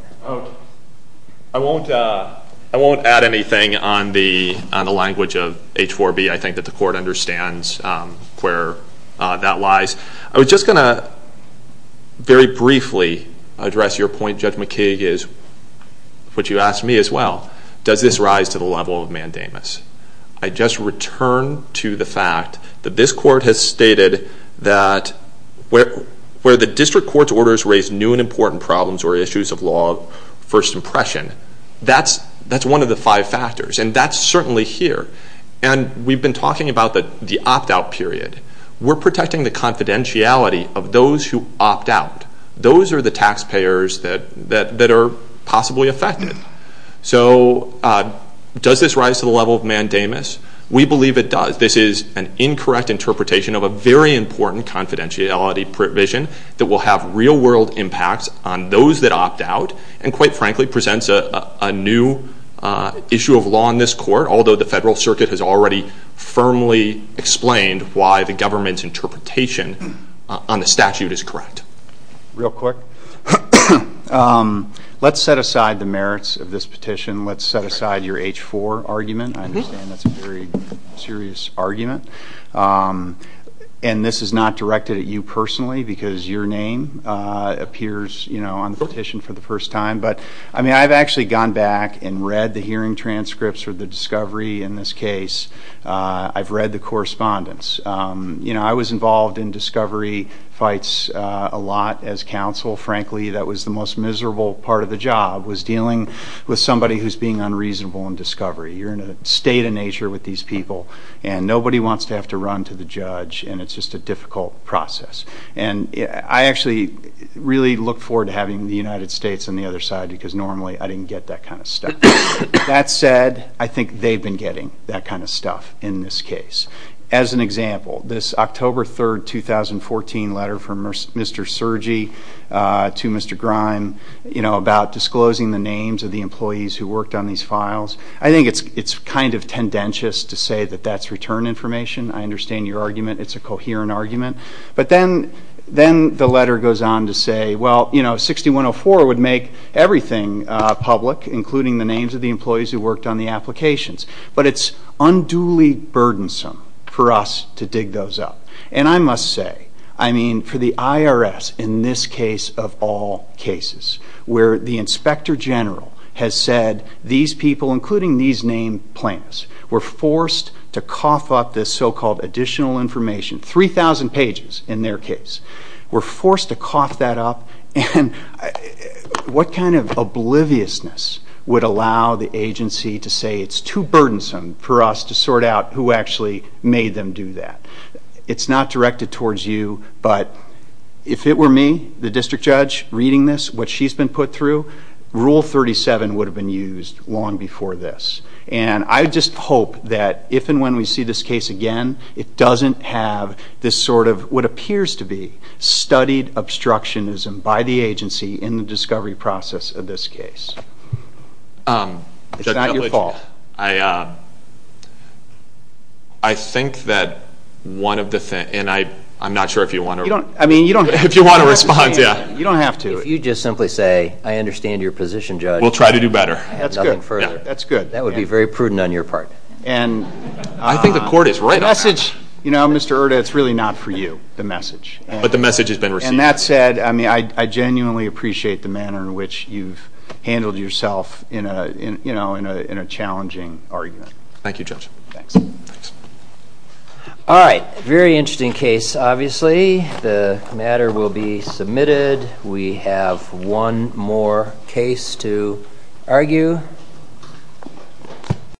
I won't add anything on the language of H-4B. I think that the Court understands where that lies. I was just going to very briefly address your point, Judge McKee, which you asked me as well. Does this rise to the level of mandamus? I just return to the fact that this Court has stated that where the district court's orders raise new and important problems or issues of law first impression, that's one of the five factors. And that's certainly here. And we've been talking about the opt-out period. We're protecting the confidentiality of those who opt out. Those are the taxpayers that are possibly affected. So does this rise to the level of mandamus? We believe it does. This is an incorrect interpretation of a very important confidentiality provision that will have real-world impacts on those that opt out and, quite frankly, presents a new issue of law in this Court, although the Federal Circuit has already firmly explained why the government's interpretation on the statute is correct. Real quick. Let's set aside the merits of this petition. Let's set aside your H-4 argument. I understand that's a very serious argument. And this is not directed at you personally because your name appears on the petition for the first time. But, I mean, I've actually gone back and read the hearing transcripts or the discovery in this case. I've read the correspondence. I was involved in discovery fights a lot as counsel. Frankly, that was the most miserable part of the job, was dealing with somebody who's being unreasonable in discovery. You're in a state of nature with these people, and nobody wants to have to run to the judge, and it's just a difficult process. And I actually really look forward to having the United States on the other side because normally I didn't get that kind of stuff. That said, I think they've been getting that kind of stuff in this case. As an example, this October 3, 2014 letter from Mr. Cergy to Mr. Grime, you know, about disclosing the names of the employees who worked on these files, I think it's kind of tendentious to say that that's return information. I understand your argument. It's a coherent argument. But then the letter goes on to say, well, you know, 6104 would make everything public, including the names of the employees who worked on the applications. But it's unduly burdensome for us to dig those up. And I must say, I mean, for the IRS in this case of all cases, where the inspector general has said these people, including these named plaintiffs, were forced to cough up this so-called additional information, 3,000 pages in their case, were forced to cough that up, and what kind of obliviousness would allow the agency to say it's too burdensome for us to sort out who actually made them do that? It's not directed towards you, but if it were me, the district judge, reading this, what she's been put through, Rule 37 would have been used long before this. And I just hope that if and when we see this case again, it doesn't have this sort of what appears to be studied obstructionism by the agency in the discovery process of this case. It's not your fault. I think that one of the things, and I'm not sure if you want to respond. You don't have to. If you just simply say, I understand your position, Judge. We'll try to do better. Nothing further. That's good. That would be very prudent on your part. I think the court is right on that. You know, Mr. Erta, it's really not for you, the message. But the message has been received. And that said, I genuinely appreciate the manner in which you've handled yourself in a challenging argument. Thank you, Judge. Thanks. All right. Very interesting case, obviously. The matter will be submitted. We have one more case to argue.